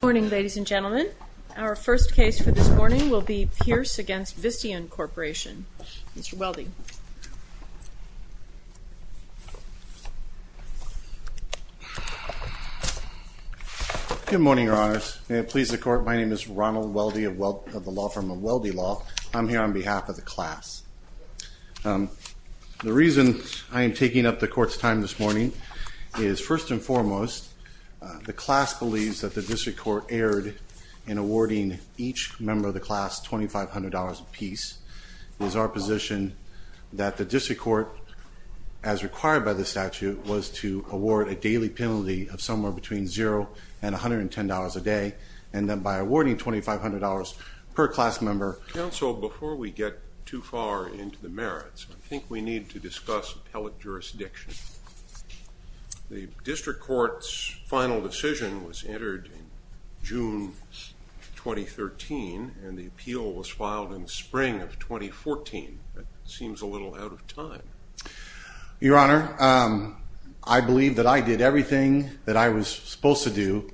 Good morning, ladies and gentlemen. Our first case for this morning will be Pierce v. Visteon Corporation. Mr. Weldy. Good morning, Your Honors. May it please the Court, my name is Ronald Weldy of the law firm of Weldy Law. I'm here on behalf of the class. The reason I am taking up the Court's time this morning is, first and foremost, the class believes that the District Court erred in awarding each member of the class $2,500 apiece. It is our position that the District Court, as required by the statute, was to award a daily penalty of somewhere between $0 and $110 a day. And that by awarding $2,500 per class member... Counsel, before we get too far into the merits, I think we need to discuss appellate jurisdiction. The District Court's final decision was entered in June 2013, and the appeal was filed in the spring of 2014. That seems a little out of time. Your Honor, I believe that I did everything that I was supposed to do,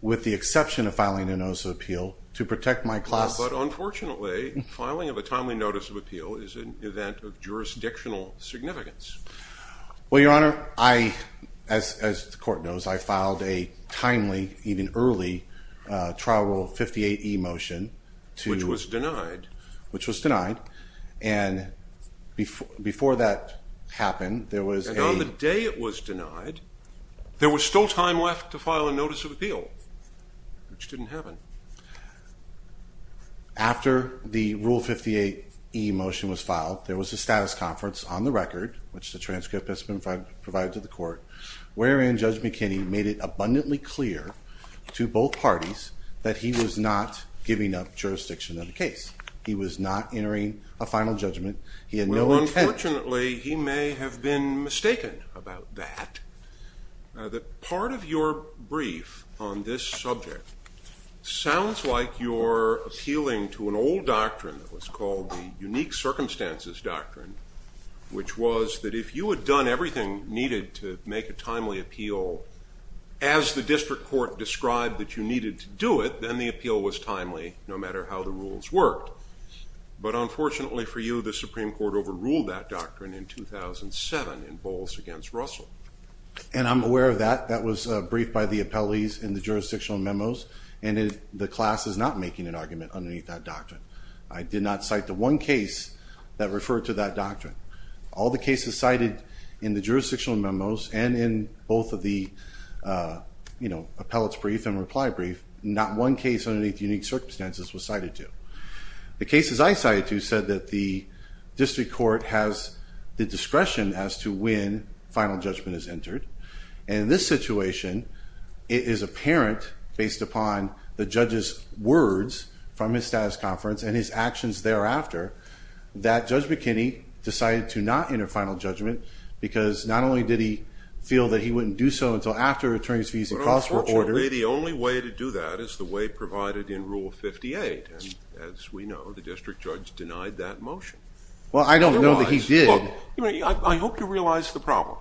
with the exception of filing a notice of appeal, to protect my class... Well, but unfortunately, filing of a timely notice of appeal is an event of jurisdictional significance. Well, Your Honor, as the Court knows, I filed a timely, even early, trial rule 58E motion to... Which was denied. Which was denied, and before that happened, there was a... And on the day it was denied, there was still time left to file a notice of appeal, which didn't happen. After the rule 58E motion was filed, there was a status conference on the record, which the transcript has been provided to the Court, wherein Judge McKinney made it abundantly clear to both parties that he was not giving up jurisdiction of the case. He was not entering a final judgment. He had no intent... Well, unfortunately, he may have been mistaken about that. Part of your brief on this subject sounds like you're appealing to an old doctrine that was called the unique circumstances doctrine, which was that if you had done everything needed to make a timely appeal as the district court described that you needed to do it, then the appeal was timely, no matter how the rules worked. But unfortunately for you, the Supreme Court overruled that doctrine in 2007 in Bowles against Russell. And I'm aware of that. That was briefed by the appellees in the jurisdictional memos, and the class is not making an argument underneath that doctrine. I did not cite the one case that referred to that doctrine. All the cases cited in the jurisdictional memos and in both of the appellate's brief and reply brief, not one case underneath unique circumstances was cited to. The cases I cited to said that the district court has the discretion as to when final judgment is entered. And in this situation, it is apparent, based upon the judge's words from his status conference and his actions thereafter, that Judge McKinney decided to not enter final judgment because not only did he feel that he wouldn't do so until after the attorney's fees and costs were ordered... But unfortunately, the only way to do that is the way provided in Rule 58. And as we know, the district judge denied that motion. Well, I don't know that he did. I hope you realize the problem.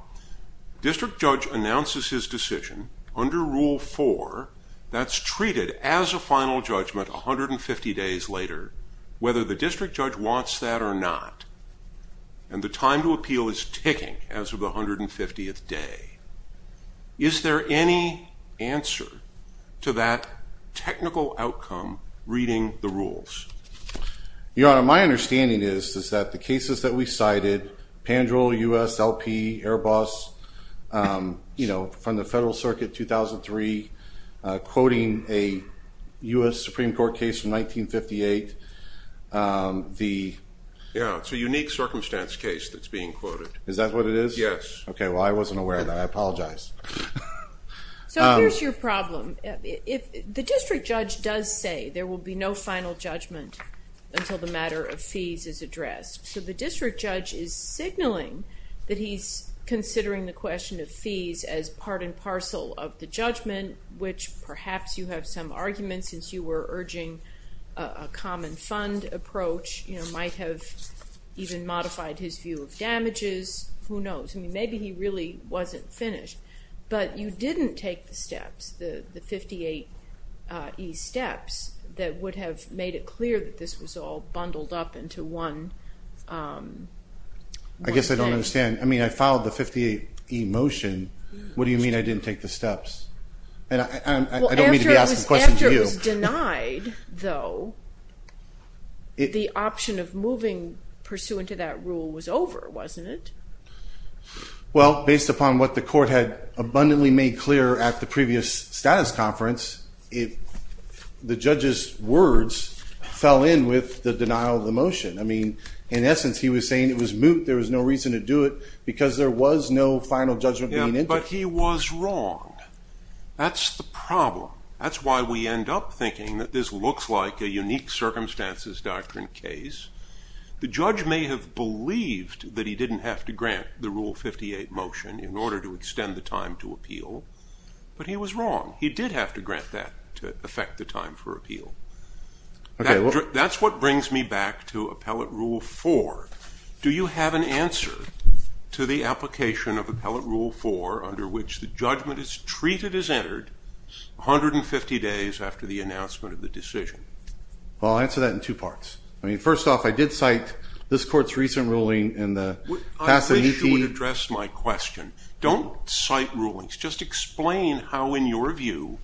District judge announces his decision under Rule 4 that's treated as a final judgment 150 days later, whether the district judge wants that or not. And the time to appeal is ticking as of the 150th day. Is there any answer to that technical outcome reading the rules? Your Honor, my understanding is that the cases that we cited, Pandrel, USLP, Airbus, you know, from the Federal Circuit 2003, quoting a U.S. Supreme Court case from 1958, the... Yeah, it's a unique circumstance case that's being quoted. Is that what it is? Yes. Okay, well, I wasn't aware of that. I apologize. So here's your problem. The district judge does say there will be no final judgment until the matter of fees is addressed. So the district judge is signaling that he's considering the question of fees as part and parcel of the judgment, which perhaps you have some argument since you were urging a common fund approach. You know, might have even modified his view of damages. Who knows? I mean, maybe he really wasn't finished. But you didn't take the steps, the 58E steps that would have made it clear that this was all bundled up into one thing. I guess I don't understand. I mean, I filed the 58E motion. What do you mean I didn't take the steps? And I don't mean to be asking questions of you. Well, after it was denied, though, the option of moving pursuant to that rule was over, wasn't it? Well, based upon what the court had abundantly made clear at the previous status conference, the judge's words fell in with the denial of the motion. I mean, in essence, he was saying it was moot. There was no reason to do it because there was no final judgment being entered. Yeah, but he was wrong. That's the problem. That's why we end up thinking that this looks like a unique circumstances doctrine case. The judge may have believed that he didn't have to grant the Rule 58 motion in order to extend the time to appeal, but he was wrong. He did have to grant that to affect the time for appeal. That's what brings me back to Appellate Rule 4. Do you have an answer to the application of Appellate Rule 4 under which the judgment is treated as entered 150 days after the announcement of the decision? Well, I'll answer that in two parts. I mean, first off, I did cite this court's recent ruling in the Passananti— I wish you would address my question. Don't cite rulings. Just explain how, in your view,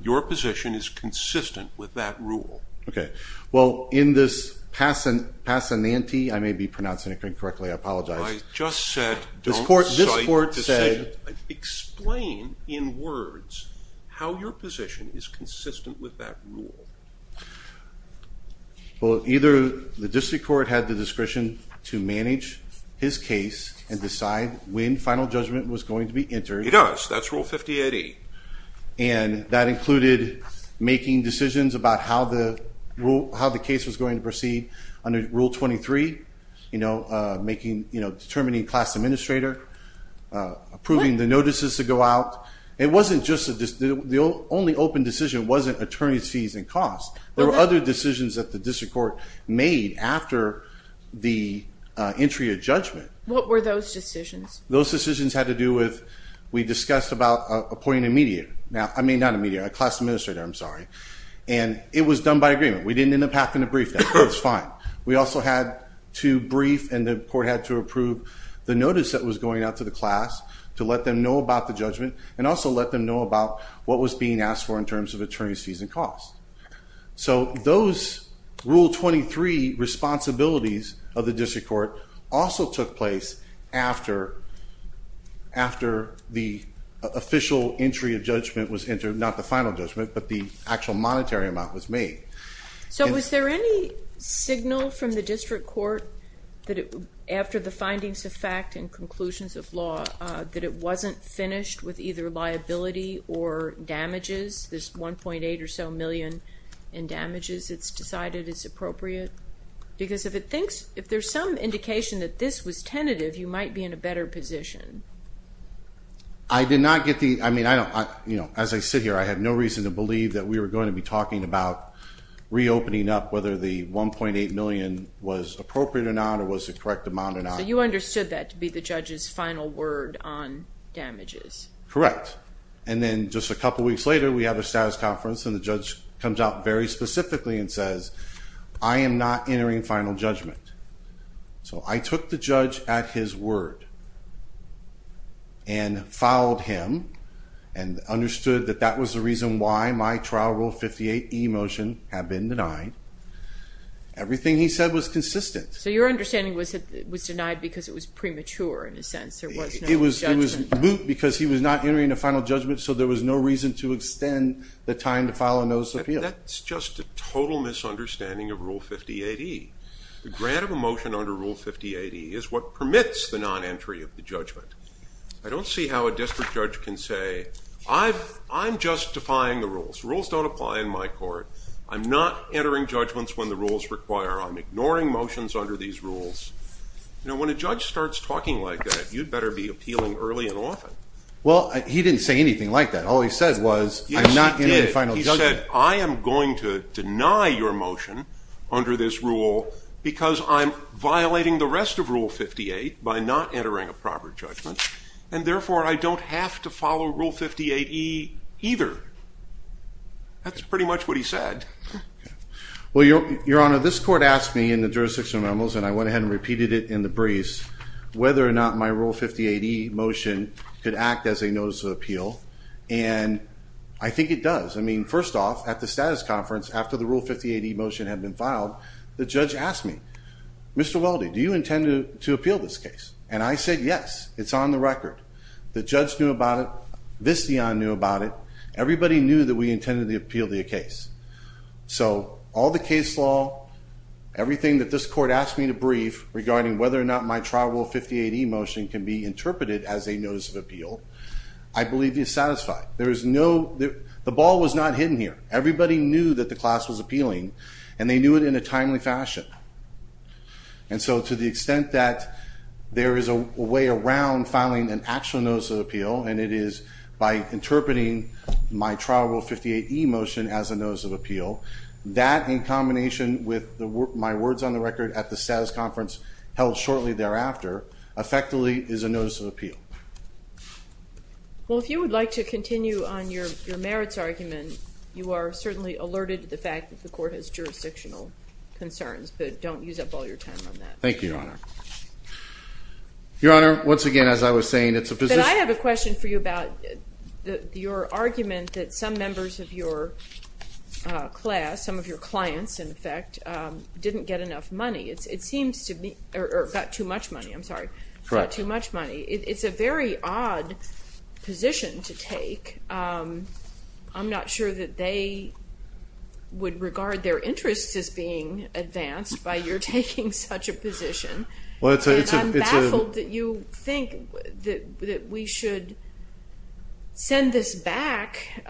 your position is consistent with that rule. Okay. Well, in this Passananti—I may be pronouncing it incorrectly. I apologize. I just said don't cite decisions. This court said— Explain in words how your position is consistent with that rule. Well, either the district court had the discretion to manage his case and decide when final judgment was going to be entered. It does. That's Rule 58E. And that included making decisions about how the case was going to proceed under Rule 23, you know, determining class administrator, approving the notices to go out. It wasn't just—the only open decision wasn't attorney's fees and costs. There were other decisions that the district court made after the entry of judgment. What were those decisions? Those decisions had to do with—we discussed about appointing a mediator. Now, I mean, not a mediator, a class administrator. I'm sorry. And it was done by agreement. We didn't end up having to brief them. It was fine. We also had to brief and the court had to approve the notice that was going out to the class to let them know about the judgment and also let them know about what was being asked for in terms of attorney's fees and costs. So those Rule 23 responsibilities of the district court also took place after the official entry of judgment was entered, not the final judgment, but the actual monetary amount was made. So was there any signal from the district court that after the findings of fact and conclusions of law that it wasn't finished with either liability or damages, this 1.8 or so million in damages it's decided is appropriate? Because if it thinks—if there's some indication that this was tentative, you might be in a better position. I did not get the—I mean, I don't—you know, as I sit here, I have no reason to believe that we were going to be talking about reopening up whether the 1.8 million was appropriate or not or was the correct amount or not. So you understood that to be the judge's final word on damages? Correct. And then just a couple weeks later, we have a status conference, and the judge comes out very specifically and says, I am not entering final judgment. So I took the judge at his word and fouled him and understood that that was the reason why my Trial Rule 58e motion had been denied. Everything he said was consistent. So your understanding was that it was denied because it was premature in a sense. There was no judgment. It was moot because he was not entering a final judgment, so there was no reason to extend the time to file a notice of appeal. That's just a total misunderstanding of Rule 58e. The grant of a motion under Rule 58e is what permits the non-entry of the judgment. I don't see how a district judge can say, I'm justifying the rules. Rules don't apply in my court. I'm not entering judgments when the rules require. I'm ignoring motions under these rules. You know, when a judge starts talking like that, you'd better be appealing early and often. Well, he didn't say anything like that. All he said was, I'm not entering final judgment. Yes, he did. He said, I am going to deny your motion under this rule because I'm violating the rest of Rule 58 by not entering a proper judgment. And therefore, I don't have to follow Rule 58e either. That's pretty much what he said. Well, Your Honor, this court asked me in the jurisdiction of memos, and I went ahead and repeated it in the briefs, whether or not my Rule 58e motion could act as a notice of appeal. And I think it does. I mean, first off, at the status conference, after the Rule 58e motion had been filed, the judge asked me, Mr. Weldy, do you intend to appeal this case? And I said, yes. It's on the record. The judge knew about it. Visteon knew about it. Everybody knew that we intended to appeal the case. So all the case law, everything that this court asked me to brief regarding whether or not my trial Rule 58e motion can be interpreted as a notice of appeal, I believe is satisfied. The ball was not hidden here. Everybody knew that the class was appealing, and they knew it in a timely fashion. And so to the extent that there is a way around filing an actual notice of appeal, and it is by interpreting my trial Rule 58e motion as a notice of appeal, that in combination with my words on the record at the status conference held shortly thereafter, effectively is a notice of appeal. Well, if you would like to continue on your merits argument, you are certainly alerted to the fact that the court has jurisdictional concerns. But don't use up all your time on that. Thank you, Your Honor. Your Honor, once again, as I was saying, it's a position. But I have a question for you about your argument that some members of your class, some of your clients, in effect, didn't get enough money. It seems to me or got too much money. I'm sorry. Got too much money. It's a very odd position to take. I'm not sure that they would regard their interests as being advanced by your taking such a position. And I'm baffled that you think that we should send this back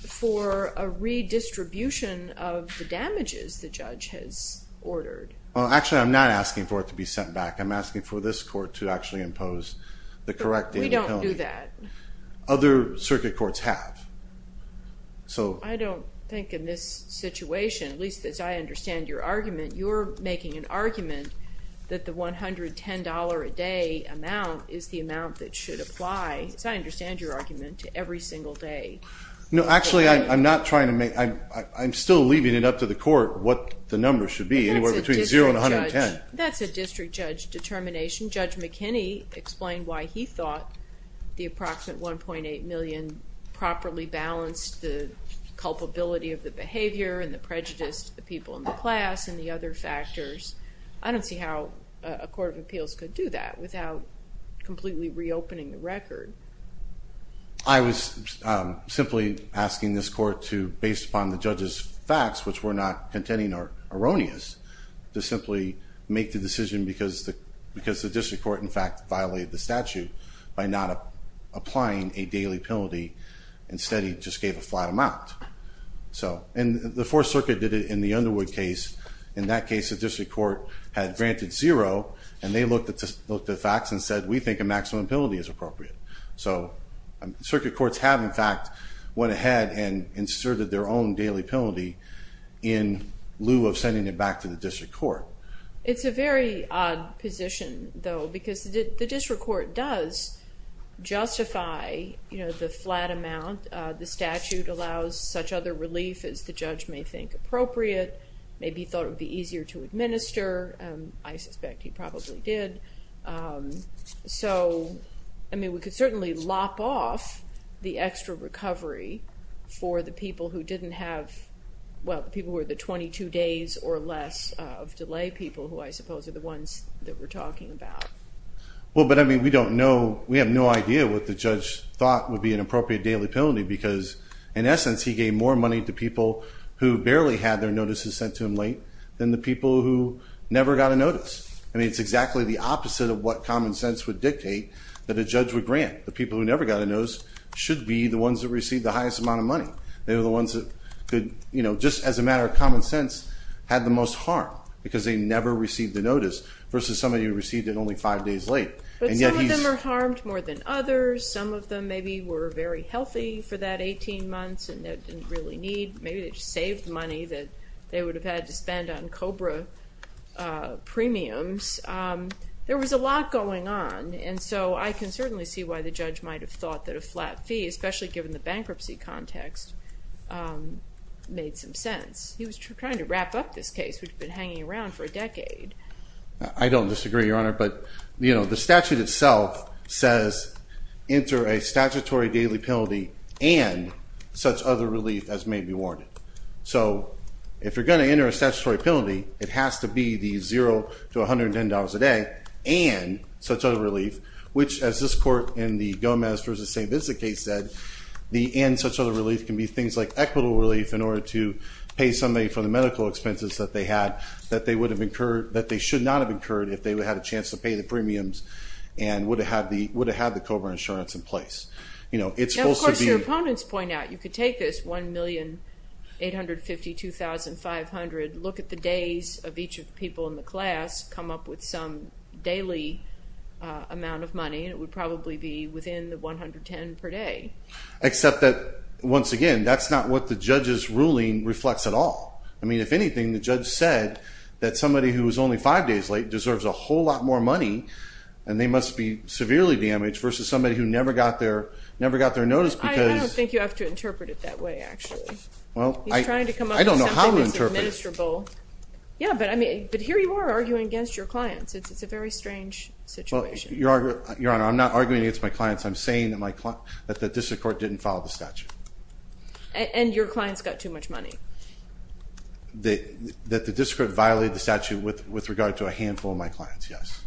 for a redistribution of the damages the judge has ordered. Well, actually, I'm not asking for it to be sent back. I'm asking for this court to actually impose the correct thing. We don't do that. Other circuit courts have. I don't think in this situation, at least as I understand your argument, you're making an argument that the $110 a day amount is the amount that should apply, as I understand your argument, to every single day. No, actually, I'm still leaving it up to the court what the number should be, anywhere between 0 and 110. That's a district judge determination. Judge McKinney explained why he thought the approximate $1.8 million properly balanced the culpability of the behavior and the prejudice of the people in the class and the other factors. I don't see how a court of appeals could do that without completely reopening the record. I was simply asking this court to, based upon the judge's facts, which were not contending or erroneous, to simply make the decision because the district court, in fact, violated the statute by not applying a daily penalty. Instead, he just gave a flat amount. And the Fourth Circuit did it in the Underwood case. In that case, the district court had granted 0, and they looked at the facts and said, we think a maximum penalty is appropriate. Circuit courts have, in fact, went ahead and inserted their own daily penalty in lieu of sending it back to the district court. It's a very odd position, though, because the district court does justify the flat amount. The statute allows such other relief as the judge may think appropriate. Maybe he thought it would be easier to administer. I suspect he probably did. So, I mean, we could certainly lop off the extra recovery for the people who didn't have, well, the people who were the 22 days or less of delay people who I suppose are the ones that we're talking about. Well, but I mean, we don't know, we have no idea what the judge thought would be an appropriate daily penalty because, in essence, he gave more money to people who barely had their notices sent to him late than the people who never got a notice. I mean, it's exactly the opposite of what common sense would dictate that a judge would grant. The people who never got a notice should be the ones who received the highest amount of money. They were the ones that could, you know, just as a matter of common sense, had the most harm because they never received a notice versus somebody who received it only five days late. But some of them are harmed more than others. Some of them maybe were very healthy for that 18 months and didn't really need. Maybe they just saved money that they would have had to spend on COBRA premiums. There was a lot going on, and so I can certainly see why the judge might have thought that a flat fee, especially given the bankruptcy context, made some sense. He was trying to wrap up this case which had been hanging around for a decade. I don't disagree, Your Honor, but, you know, the statute itself says enter a statutory daily penalty and such other relief as may be warranted. So if you're going to enter a statutory penalty, it has to be the $0 to $110 a day and such other relief, which as this court in the Gomez v. St. Vincent case said, the and such other relief can be things like equitable relief in order to pay somebody for the medical expenses that they had that they should not have incurred if they would have had a chance to pay the premiums and would have had the COBRA insurance in place. Now, of course, your opponents point out you could take this $1,852,500, look at the days of each of the people in the class, come up with some daily amount of money, and it would probably be within the $110 per day. Except that, once again, that's not what the judge's ruling reflects at all. I mean, if anything, the judge said that somebody who was only five days late deserves a whole lot more money, and they must be severely damaged versus somebody who never got their notice because. I don't think you have to interpret it that way, actually. He's trying to come up with something that's administrable. I don't know how to interpret it. Yeah, but here you are arguing against your clients. It's a very strange situation. Your Honor, I'm not arguing against my clients. I'm saying that the district court didn't follow the statute. And your clients got too much money. That the district court violated the statute with regard to a handful of my clients, yes.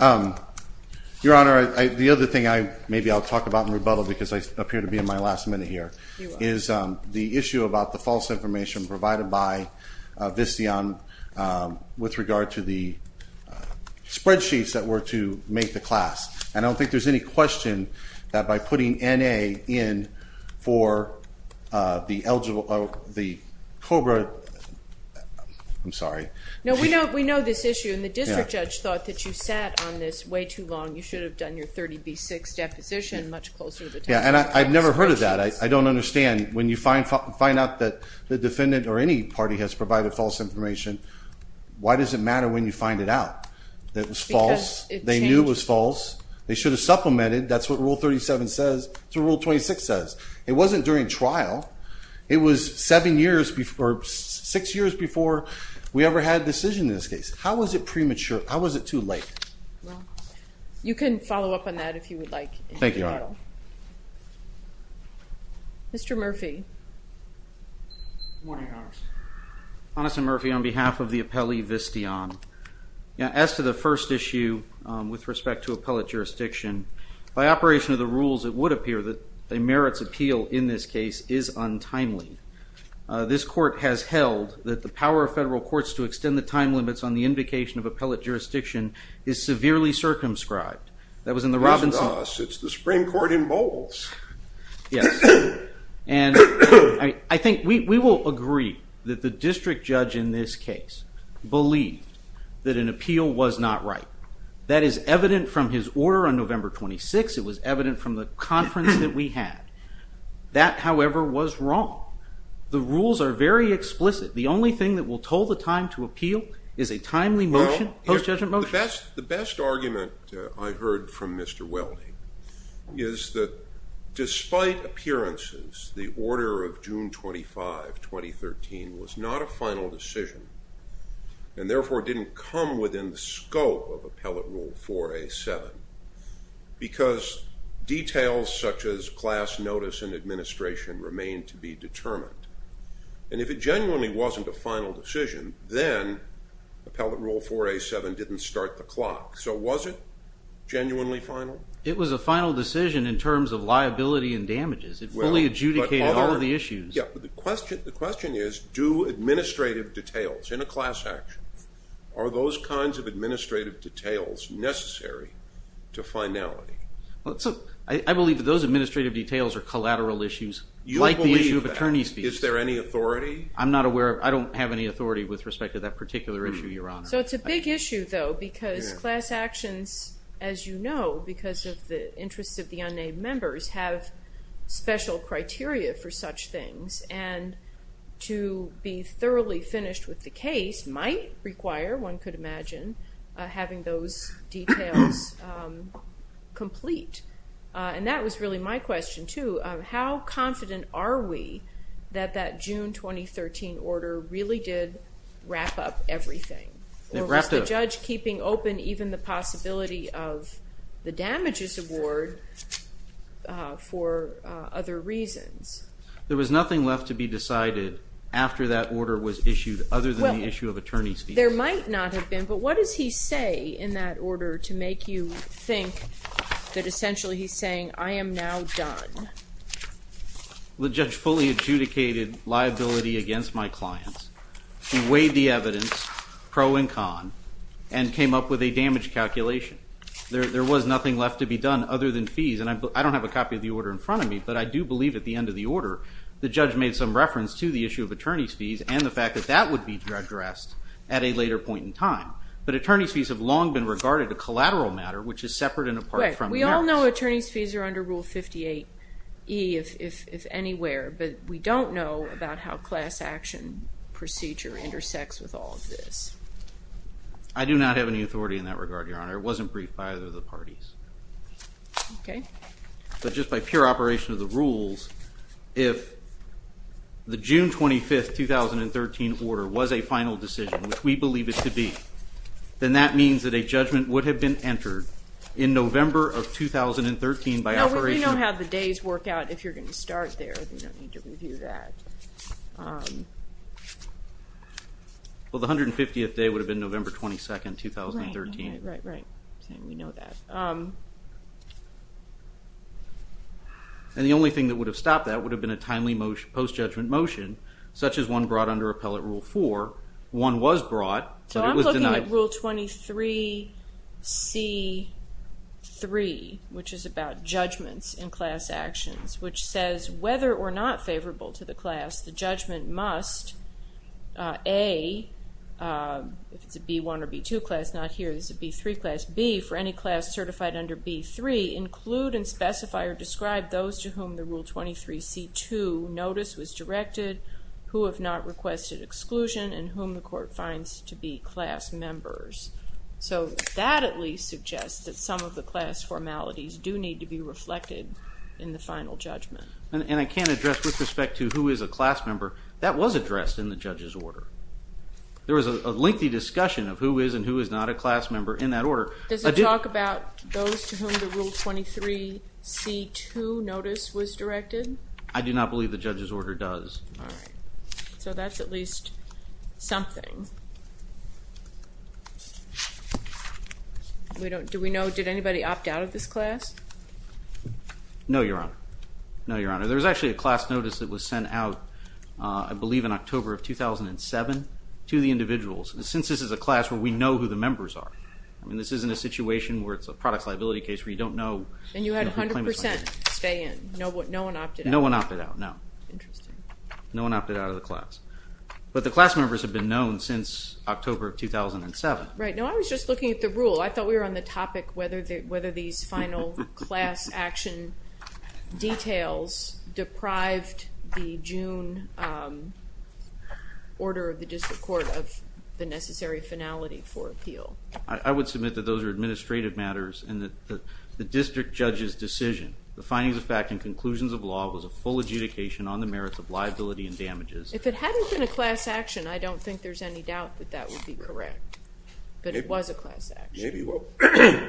Okay. Your Honor, the other thing maybe I'll talk about in rebuttal because I appear to be in my last minute here, is the issue about the false information provided by Visteon with regard to the spreadsheets that were to make the class. And I don't think there's any question that by putting N.A. in for the COBRA. I'm sorry. No, we know this issue, and the district judge thought that you sat on this way too long. You should have done your 30B6 deposition much closer to the time. Yeah, and I've never heard of that. I don't understand. When you find out that the defendant or any party has provided false information, why does it matter when you find it out? That was false. Because it changed. They knew it was false. They should have supplemented. That's what Rule 37 says. That's what Rule 26 says. It wasn't during trial. It was six years before we ever had a decision in this case. How was it premature? How was it too late? Well, you can follow up on that if you would like. Thank you, Your Honor. Mr. Murphy. Good morning, Your Honor. Honest and Murphy, on behalf of the appellee, Visteon, as to the first issue with respect to appellate jurisdiction, by operation of the rules, it would appear that a merits appeal in this case is untimely. This court has held that the power of federal courts to extend the time limits on the invocation of appellate jurisdiction is severely circumscribed. That was in the Robinson Laws. It's the Supreme Court in Bowles. Yes. And I think we will agree that the district judge in this case believed that an appeal was not right. That is evident from his order on November 26. It was evident from the conference that we had. That, however, was wrong. The rules are very explicit. The only thing that will toll the time to appeal is a timely motion, post-judgment motion. The best argument I heard from Mr. Weldy is that despite appearances, the order of June 25, 2013, was not a final decision and, therefore, didn't come within the scope of Appellate Rule 4A.7 because details such as class notice and administration remained to be determined. And if it genuinely wasn't a final decision, then Appellate Rule 4A.7 didn't start the clock. So was it genuinely final? It was a final decision in terms of liability and damages. It fully adjudicated all of the issues. The question is, do administrative details in a class action, are those kinds of administrative details necessary to finality? I believe that those administrative details are collateral issues, like the issue of attorney's fees. Is there any authority? I don't have any authority with respect to that particular issue, Your Honor. So it's a big issue, though, because class actions, as you know, because of the interests of the unnamed members, have special criteria for such things. And to be thoroughly finished with the case might require, one could imagine, having those details complete. And that was really my question, too. How confident are we that that June 2013 order really did wrap up everything? Or was the judge keeping open even the possibility of the damages award for other reasons? There was nothing left to be decided after that order was issued other than the issue of attorney's fees. There might not have been, but what does he say in that order to make you think that essentially he's saying, I am now done? The judge fully adjudicated liability against my clients. He weighed the evidence, pro and con, and came up with a damage calculation. There was nothing left to be done other than fees. And I don't have a copy of the order in front of me, but I do believe at the end of the order the judge made some reference to the issue of attorney's fees and the fact that that would be addressed at a later point in time. But attorney's fees have long been regarded a collateral matter, which is separate and apart from merits. We all know attorney's fees are under Rule 58E, if anywhere, but we don't know about how class action procedure intersects with all of this. I do not have any authority in that regard, Your Honor. It wasn't briefed by either of the parties. Okay. But just by pure operation of the rules, if the June 25, 2013, order was a final decision, which we believe it to be, then that means that a judgment would have been entered in November of 2013 by operation of the... No, we don't have the days work out if you're going to start there. You don't need to review that. Well, the 150th day would have been November 22, 2013. Right, right, right. We know that. And the only thing that would have stopped that would have been a timely post-judgment motion, such as one brought under Appellate Rule 4. One was brought, but it was denied. We're looking at Rule 23C3, which is about judgments in class actions, which says, whether or not favorable to the class, the judgment must, A, if it's a B1 or B2 class, not here, this is a B3 class, B, for any class certified under B3, include and specify or describe those to whom the Rule 23C2 notice was directed, who have not requested exclusion, and whom the court finds to be class members. So that at least suggests that some of the class formalities do need to be reflected in the final judgment. And I can't address with respect to who is a class member. That was addressed in the judge's order. There was a lengthy discussion of who is and who is not a class member in that order. Does it talk about those to whom the Rule 23C2 notice was directed? I do not believe the judge's order does. All right. So that's at least something. Do we know, did anybody opt out of this class? No, Your Honor. No, Your Honor. There was actually a class notice that was sent out, I believe in October of 2007, to the individuals. And since this is a class where we know who the members are, I mean, this isn't a situation where it's a products liability case where you don't know. And you had 100% stay in. No one opted out. No one opted out, no. Interesting. No one opted out of the class. But the class members have been known since October of 2007. Right. No, I was just looking at the rule. I thought we were on the topic whether these final class action details deprived the June Order of the District Court of the necessary finality for appeal. I would submit that those are administrative matters and that the district judge's decision, the findings of fact and conclusions of law, was a full adjudication on the merits of liability and damages. If it hadn't been a class action, I don't think there's any doubt that that would be correct. But it was a class action.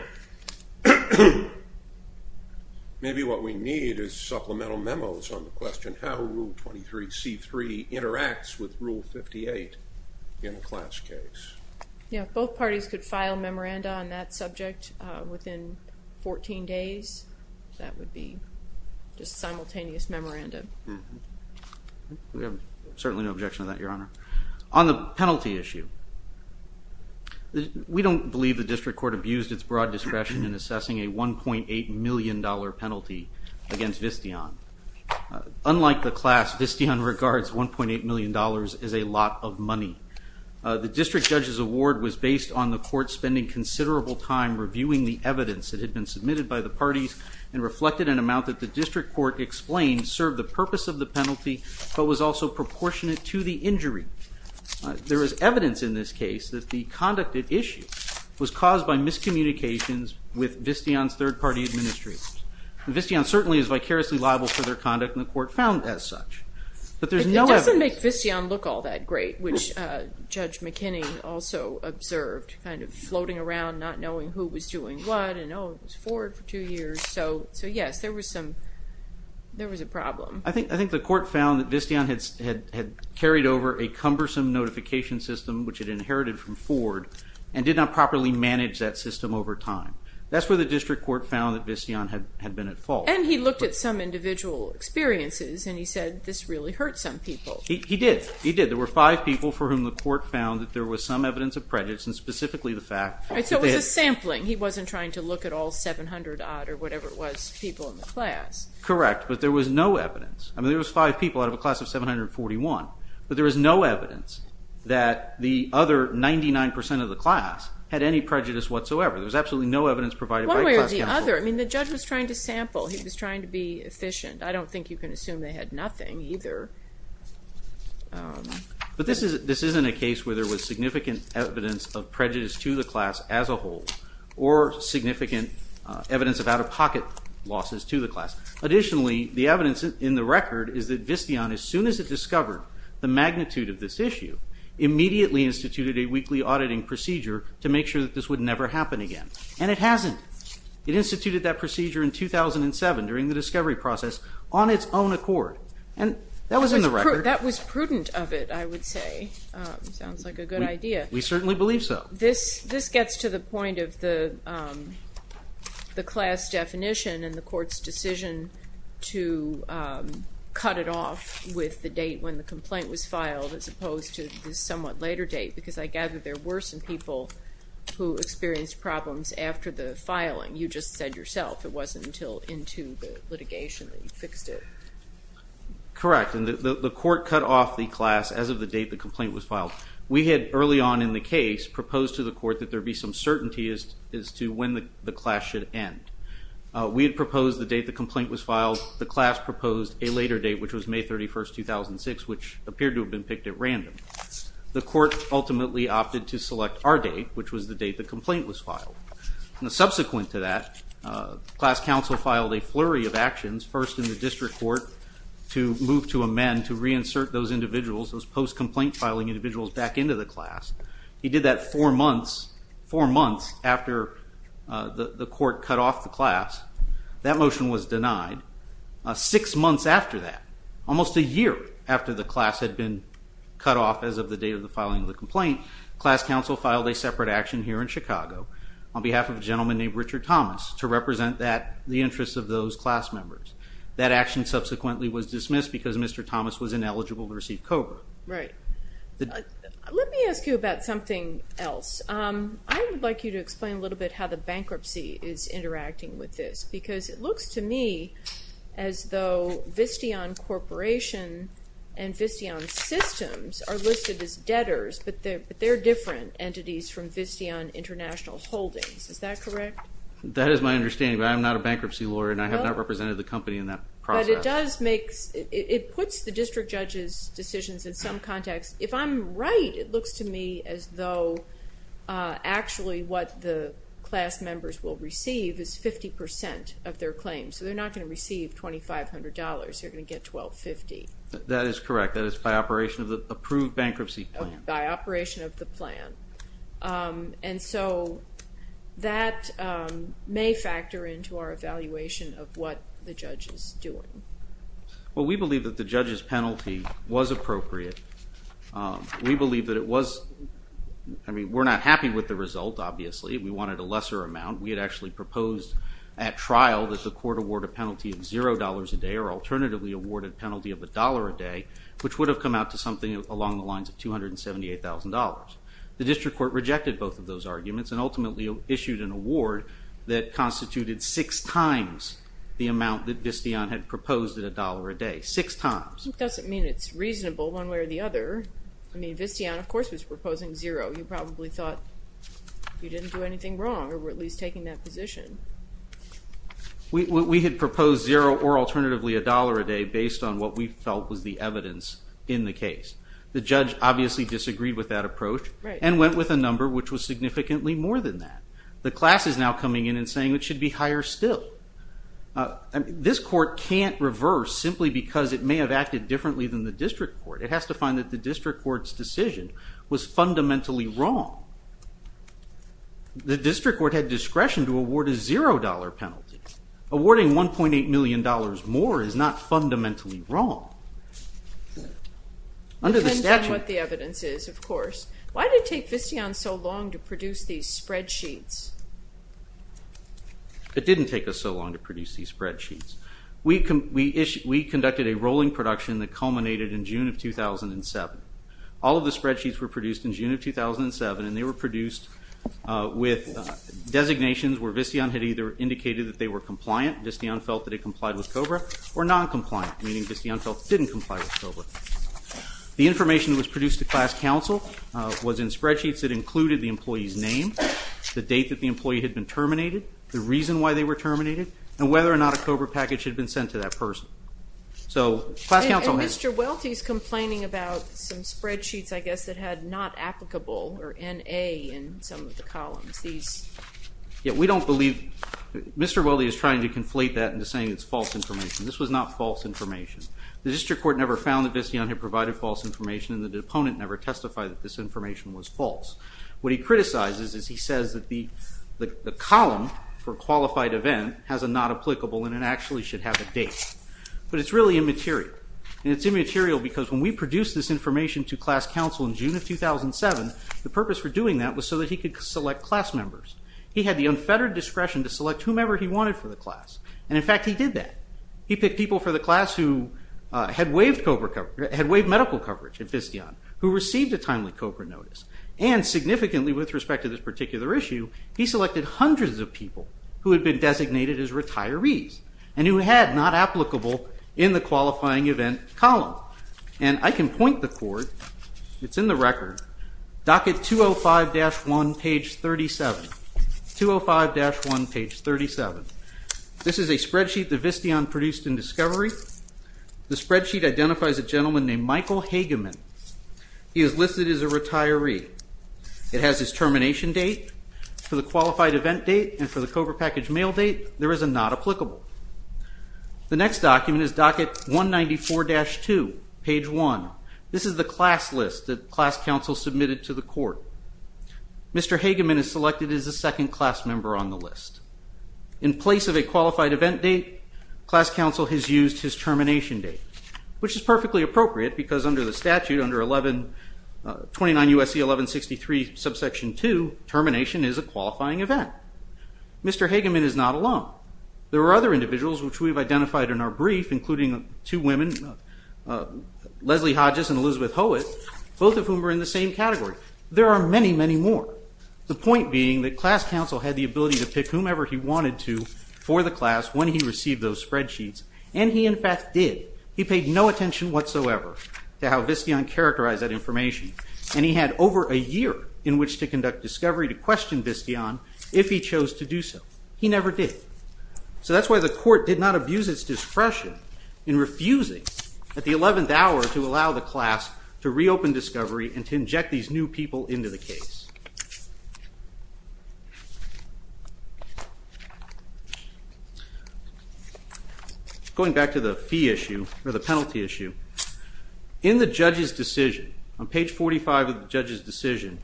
Maybe what we need is supplemental memos on the question how Rule 23C3 interacts with Rule 58 in a class case. Yeah, both parties could file memoranda on that subject within 14 days. That would be just simultaneous memoranda. We have certainly no objection to that, Your Honor. On the penalty issue, we don't believe the district court abused its broad discretion in assessing a $1.8 million penalty against Visteon. Unlike the class, Visteon regards $1.8 million as a lot of money. The district judge's award was based on the court spending considerable time reviewing the evidence that had been submitted by the parties and reflected an amount that the district court explained served the purpose of the penalty but was also proportionate to the injury. There is evidence in this case that the conduct at issue was caused by miscommunications with Visteon's third-party administrators. Visteon certainly is vicariously liable for their conduct and the court found as such. It doesn't make Visteon look all that great, which Judge McKinney also observed, kind of floating around not knowing who was doing what and, oh, it was Ford for two years. So, yes, there was a problem. I think the court found that Visteon had carried over a cumbersome notification system which it inherited from Ford and did not properly manage that system over time. That's where the district court found that Visteon had been at fault. And he looked at some individual experiences and he said this really hurt some people. He did. He did. There were five people for whom the court found that there was some evidence of prejudice and specifically the fact that they had- So it was a sampling. He wasn't trying to look at all 700 odd or whatever it was people in the class. Correct, but there was no evidence. I mean there was five people out of a class of 741, but there was no evidence that the other 99 percent of the class had any prejudice whatsoever. There was absolutely no evidence provided by class counsel. One way or the other. I mean the judge was trying to sample. He was trying to be efficient. I don't think you can assume they had nothing either. But this isn't a case where there was significant evidence of prejudice to the class as a whole or significant evidence of out-of-pocket losses to the class. Additionally, the evidence in the record is that Visteon, as soon as it discovered the magnitude of this issue, immediately instituted a weekly auditing procedure to make sure that this would never happen again. And it hasn't. It instituted that procedure in 2007 during the discovery process on its own accord. And that was in the record. That was prudent of it, I would say. Sounds like a good idea. We certainly believe so. This gets to the point of the class definition and the court's decision to cut it off with the date when the complaint was filed as opposed to the somewhat later date, because I gather there were some people who experienced problems after the filing. You just said yourself it wasn't until into the litigation that you fixed it. Correct. And the court cut off the class as of the date the complaint was filed. We had early on in the case proposed to the court that there be some certainty as to when the class should end. We had proposed the date the complaint was filed. The class proposed a later date, which was May 31, 2006, which appeared to have been picked at random. The court ultimately opted to select our date, which was the date the complaint was filed. Subsequent to that, class counsel filed a flurry of actions, first in the district court, to move to amend to reinsert those individuals, those post-complaint filing individuals, back into the class. He did that four months after the court cut off the class. That motion was denied. Six months after that, almost a year after the class had been cut off as of the date of the filing of the complaint, class counsel filed a separate action here in Chicago on behalf of a gentleman named Richard Thomas to represent the interests of those class members. That action subsequently was dismissed because Mr. Thomas was ineligible to receive COBRA. Right. Let me ask you about something else. I would like you to explain a little bit how the bankruptcy is interacting with this, because it looks to me as though Visteon Corporation and Visteon Systems are listed as debtors, but they're different entities from Visteon International Holdings. Is that correct? That is my understanding, but I am not a bankruptcy lawyer, and I have not represented the company in that process. It puts the district judge's decisions in some context. If I'm right, it looks to me as though actually what the class members will receive is 50% of their claim, so they're not going to receive $2,500. They're going to get $1,250. That is correct. That is by operation of the approved bankruptcy plan. By operation of the plan. And so that may factor into our evaluation of what the judge is doing. Well, we believe that the judge's penalty was appropriate. We believe that it was. I mean, we're not happy with the result, obviously. We wanted a lesser amount. We had actually proposed at trial that the court award a penalty of $0 a day or alternatively awarded a penalty of $1 a day, which would have come out to something along the lines of $278,000. That constituted six times the amount that Visteon had proposed at $1 a day. Six times. It doesn't mean it's reasonable one way or the other. I mean, Visteon, of course, was proposing $0. You probably thought you didn't do anything wrong or were at least taking that position. We had proposed $0 or alternatively $1 a day based on what we felt was the evidence in the case. The judge obviously disagreed with that approach and went with a number which was significantly more than that. The class is now coming in and saying it should be higher still. This court can't reverse simply because it may have acted differently than the district court. It has to find that the district court's decision was fundamentally wrong. The district court had discretion to award a $0 penalty. Awarding $1.8 million more is not fundamentally wrong. It depends on what the evidence is, of course. Why did it take Visteon so long to produce these spreadsheets? It didn't take us so long to produce these spreadsheets. We conducted a rolling production that culminated in June of 2007. All of the spreadsheets were produced in June of 2007, and they were produced with designations where Visteon had either indicated that they were compliant, Visteon felt that it complied with COBRA, or non-compliant, meaning Visteon felt it didn't comply with COBRA. The information that was produced to class counsel was in spreadsheets that included the employee's name, the date that the employee had been terminated, the reason why they were terminated, and whether or not a COBRA package had been sent to that person. And Mr. Welty is complaining about some spreadsheets, I guess, that had not applicable or N.A. in some of the columns. Yeah, we don't believe, Mr. Welty is trying to conflate that into saying it's false information. This was not false information. The district court never found that Visteon had provided false information, and the opponent never testified that this information was false. What he criticizes is he says that the column for qualified event has a not applicable, and it actually should have a date. But it's really immaterial. And it's immaterial because when we produced this information to class counsel in June of 2007, the purpose for doing that was so that he could select class members. He had the unfettered discretion to select whomever he wanted for the class. And, in fact, he did that. He picked people for the class who had waived medical coverage at Visteon, who received a timely COBRA notice. And significantly with respect to this particular issue, he selected hundreds of people who had been designated as retirees and who had not applicable in the qualifying event column. And I can point the court. It's in the record. Docket 205-1, page 37. 205-1, page 37. This is a spreadsheet that Visteon produced in discovery. The spreadsheet identifies a gentleman named Michael Hageman. He is listed as a retiree. It has his termination date. For the qualified event date and for the COBRA package mail date, there is a not applicable. The next document is docket 194-2, page 1. This is the class list that class counsel submitted to the court. Mr. Hageman is selected as a second class member on the list. In place of a qualified event date, class counsel has used his termination date, which is perfectly appropriate because under the statute, under 29 U.S.C. 1163, subsection 2, termination is a qualifying event. Mr. Hageman is not alone. There are other individuals which we've identified in our brief, including two women, Leslie Hodges and Elizabeth Howitt, both of whom are in the same category. There are many, many more. The point being that class counsel had the ability to pick whomever he wanted to for the class when he received those spreadsheets, and he in fact did. He paid no attention whatsoever to how Visteon characterized that information, and he had over a year in which to conduct discovery to question Visteon if he chose to do so. He never did. So that's why the court did not abuse its discretion in refusing at the eleventh hour to allow the class to reopen discovery and to inject these new people into the case. Going back to the fee issue, or the penalty issue, in the judge's decision, on page 45 of the judge's decision,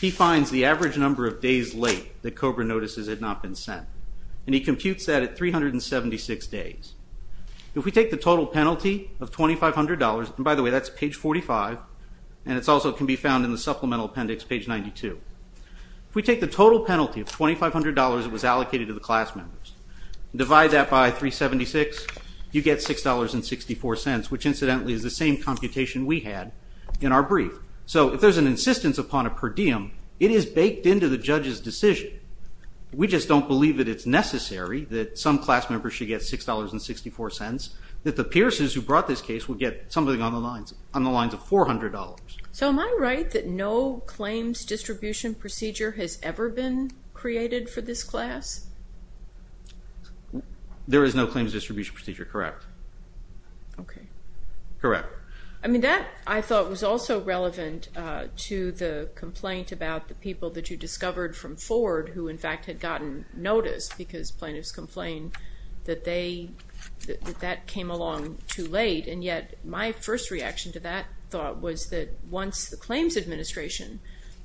he finds the average number of days late that COBRA notices had not been sent, and he computes that at 376 days. If we take the total penalty of $2,500, and by the way, that's page 45, and it also can be found in the supplemental appendix, page 92. If we take the total penalty of $2,500 that was allocated to the class members, divide that by 376, you get $6.64, which incidentally is the same computation we had in our brief. So if there's an insistence upon a per diem, it is baked into the judge's decision. We just don't believe that it's necessary that some class members should get $6.64, that the Pearsons who brought this case would get something on the lines of $400. So am I right that no claims distribution procedure has ever been created for this class? There is no claims distribution procedure, correct. Okay. Correct. I mean, that I thought was also relevant to the complaint about the people that you discovered from Ford who in fact had gotten notice because plaintiffs complained that that came along too late, and yet my first reaction to that thought was that once the claims administration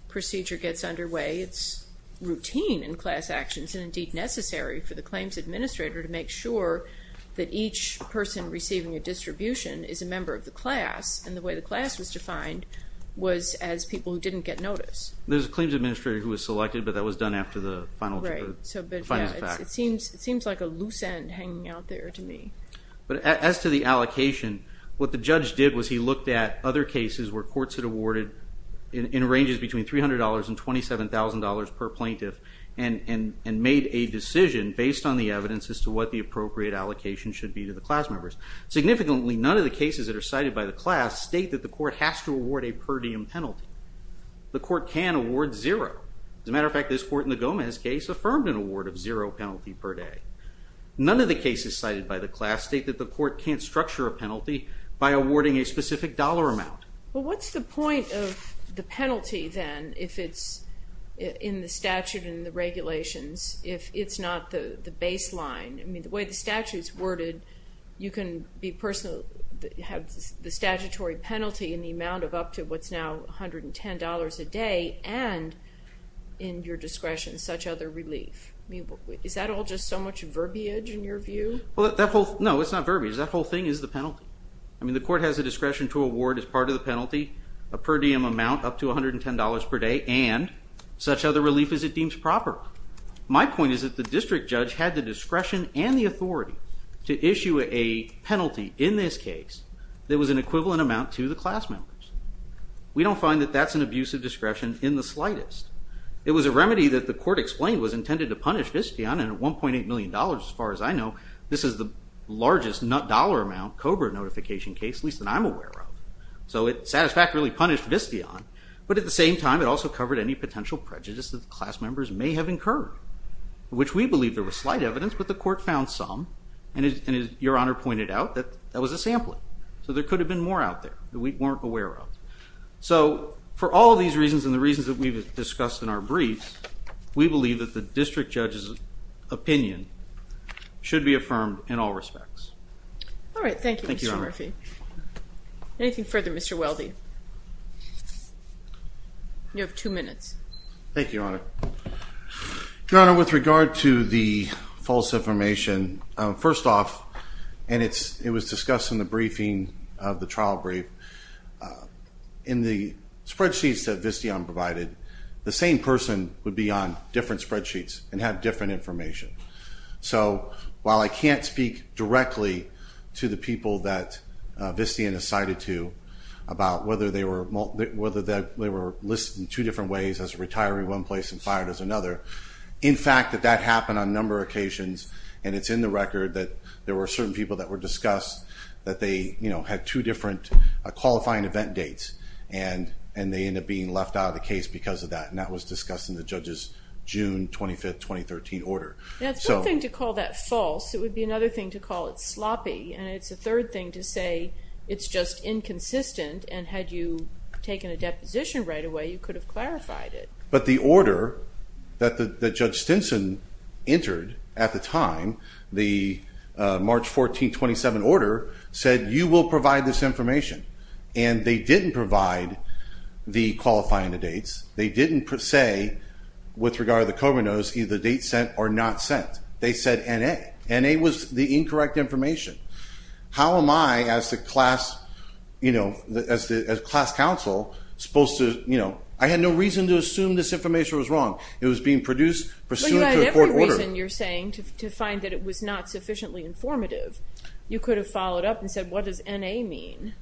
procedure gets underway, it's routine in class actions and indeed necessary for the claims administrator to make sure that each person receiving a distribution is a member of the class, and the way the class was defined was as people who didn't get notice. There's a claims administrator who was selected, but that was done after the final findings of fact. It seems like a loose end hanging out there to me. But as to the allocation, what the judge did was he looked at other cases where courts had awarded, in ranges between $300 and $27,000 per plaintiff, and made a decision based on the evidence as to what the appropriate allocation should be to the class members. Significantly, none of the cases that are cited by the class state that the court has to award a per diem penalty. The court can award zero. As a matter of fact, this court in the Gomez case affirmed an award of zero penalty per day. None of the cases cited by the class state that the court can't structure a penalty by awarding a specific dollar amount. Well, what's the point of the penalty, then, if it's in the statute and the regulations, if it's not the baseline? I mean, the way the statute's worded, you can have the statutory penalty in the amount of up to what's now $110 a day, and in your discretion, such other relief. Is that all just so much verbiage in your view? No, it's not verbiage. That whole thing is the penalty. I mean, the court has the discretion to award as part of the penalty a per diem amount up to $110 per day and such other relief as it deems proper. My point is that the district judge had the discretion and the authority to issue a penalty in this case that was an equivalent amount to the class members. We don't find that that's an abuse of discretion in the slightest. It was a remedy that the court explained was intended to punish Viscion, and $1.8 million, as far as I know, this is the largest dollar amount COBRA notification case, at least that I'm aware of. So it satisfactorily punished Viscion, but at the same time, it also covered any potential prejudice that the class members may have incurred, which we believe there was slight evidence, but the court found some, and as Your Honor pointed out, that was a sampling. So there could have been more out there that we weren't aware of. So for all of these reasons and the reasons that we've discussed in our briefs, we believe that the district judge's opinion should be affirmed in all respects. All right. Thank you, Mr. Murphy. Anything further, Mr. Weldy? You have two minutes. Thank you, Your Honor. Your Honor, with regard to the false information, first off, and it was discussed in the briefing of the trial brief, in the spreadsheets that Viscion provided, the same person would be on different spreadsheets and have different information. So while I can't speak directly to the people that Viscion has cited to about whether they were listed in two different ways as retiring in one place and fired as another, in fact, that that happened on a number of occasions, and it's in the record that there were certain people that were discussed, that they had two different qualifying event dates, and they ended up being left out of the case because of that, and that was discussed in the judge's June 25, 2013 order. Now, it's one thing to call that false. It would be another thing to call it sloppy, and it's a third thing to say it's just inconsistent, and had you taken a deposition right away, you could have clarified it. But the order that Judge Stinson entered at the time, the March 14, 2017 order, said you will provide this information, and they didn't provide the qualifying dates. They didn't say, with regard to the COVID notes, either date sent or not sent. They said N.A. N.A. was the incorrect information. How am I, as the class counsel, supposed to, you know, I had no reason to assume this information was wrong. It was being produced pursuant to a court order. The reason you're saying to find that it was not sufficiently informative, you could have followed up and said, what does N.A. mean?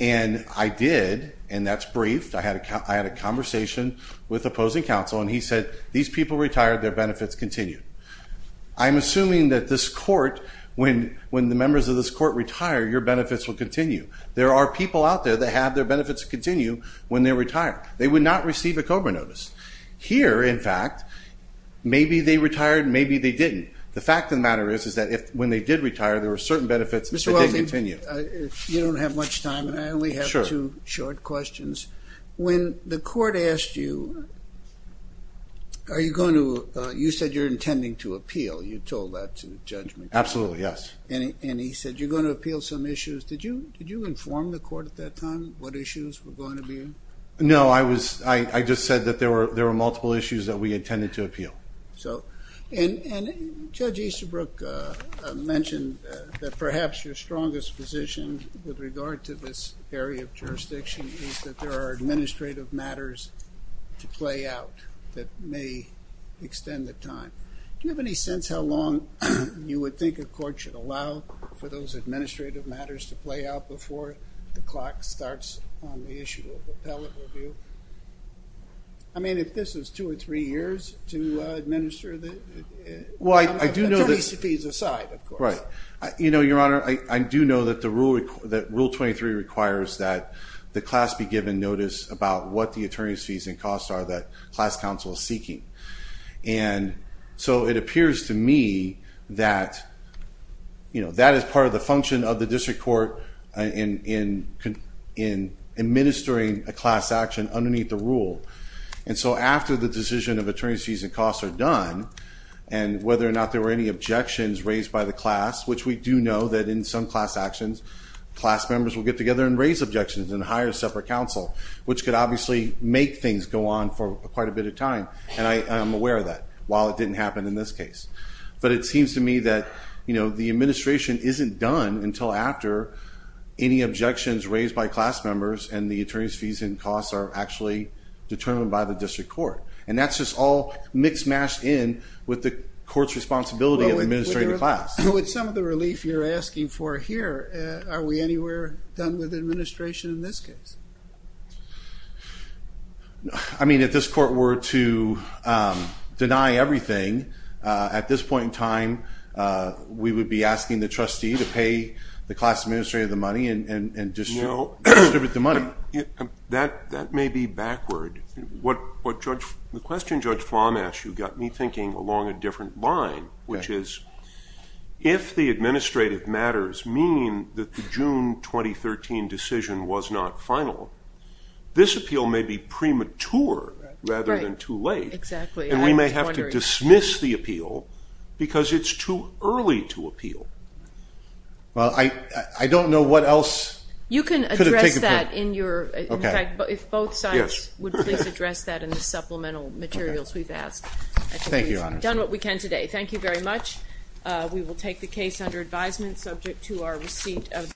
And I did, and that's briefed. I had a conversation with opposing counsel, and he said, these people retired, their benefits continue. I'm assuming that this court, when the members of this court retire, your benefits will continue. There are people out there that have their benefits continue when they retire. They would not receive a COBRA notice. Here, in fact, maybe they retired, maybe they didn't. The fact of the matter is, is that when they did retire, there were certain benefits that did continue. Mr. Welty, you don't have much time, and I only have two short questions. When the court asked you, are you going to, you said you're intending to appeal. You told that to the judgment. Absolutely, yes. And he said, you're going to appeal some issues. Did you inform the court at that time what issues were going to be? No, I just said that there were multiple issues that we intended to appeal. And Judge Easterbrook mentioned that perhaps your strongest position with regard to this area of jurisdiction is that there are administrative matters to play out that may extend the time. Do you have any sense how long you would think a court should allow for those administrative matters to play out before the clock starts on the issue of appellate review? I mean, if this is two or three years to administer, attorneys' fees aside, of course. Your Honor, I do know that Rule 23 requires that the class be given notice about what the attorney's fees and costs are that class counsel is seeking. And so it appears to me that that is part of the function of the district court in administering a class action underneath the rule. And so after the decision of attorney's fees and costs are done, and whether or not there were any objections raised by the class, which we do know that in some class actions class members will get together and raise objections and hire separate counsel, which could obviously make things go on for quite a bit of time. And I am aware of that, while it didn't happen in this case. But it seems to me that the administration isn't done until after any objections raised by class members and the attorney's fees and costs are actually determined by the district court. And that's just all mixed-matched in with the court's responsibility of administrating the class. With some of the relief you're asking for here, are we anywhere done with administration in this case? I mean, if this court were to deny everything, at this point in time we would be asking the trustee to pay the class administrator the money and distribute the money. That may be backward. The question Judge Flom asked you got me thinking along a different line, which is if the administrative matters mean that the June 2013 decision was not final, this appeal may be premature rather than too late. Exactly. And we may have to dismiss the appeal because it's too early to appeal. Well, I don't know what else could have taken place. You can address that in your... Okay. In fact, if both sides would please address that in the supplemental materials we've asked. Thank you, Your Honor. I think we've done what we can today. Thank you very much. We will take the case under advisement, subject to our receipt of the...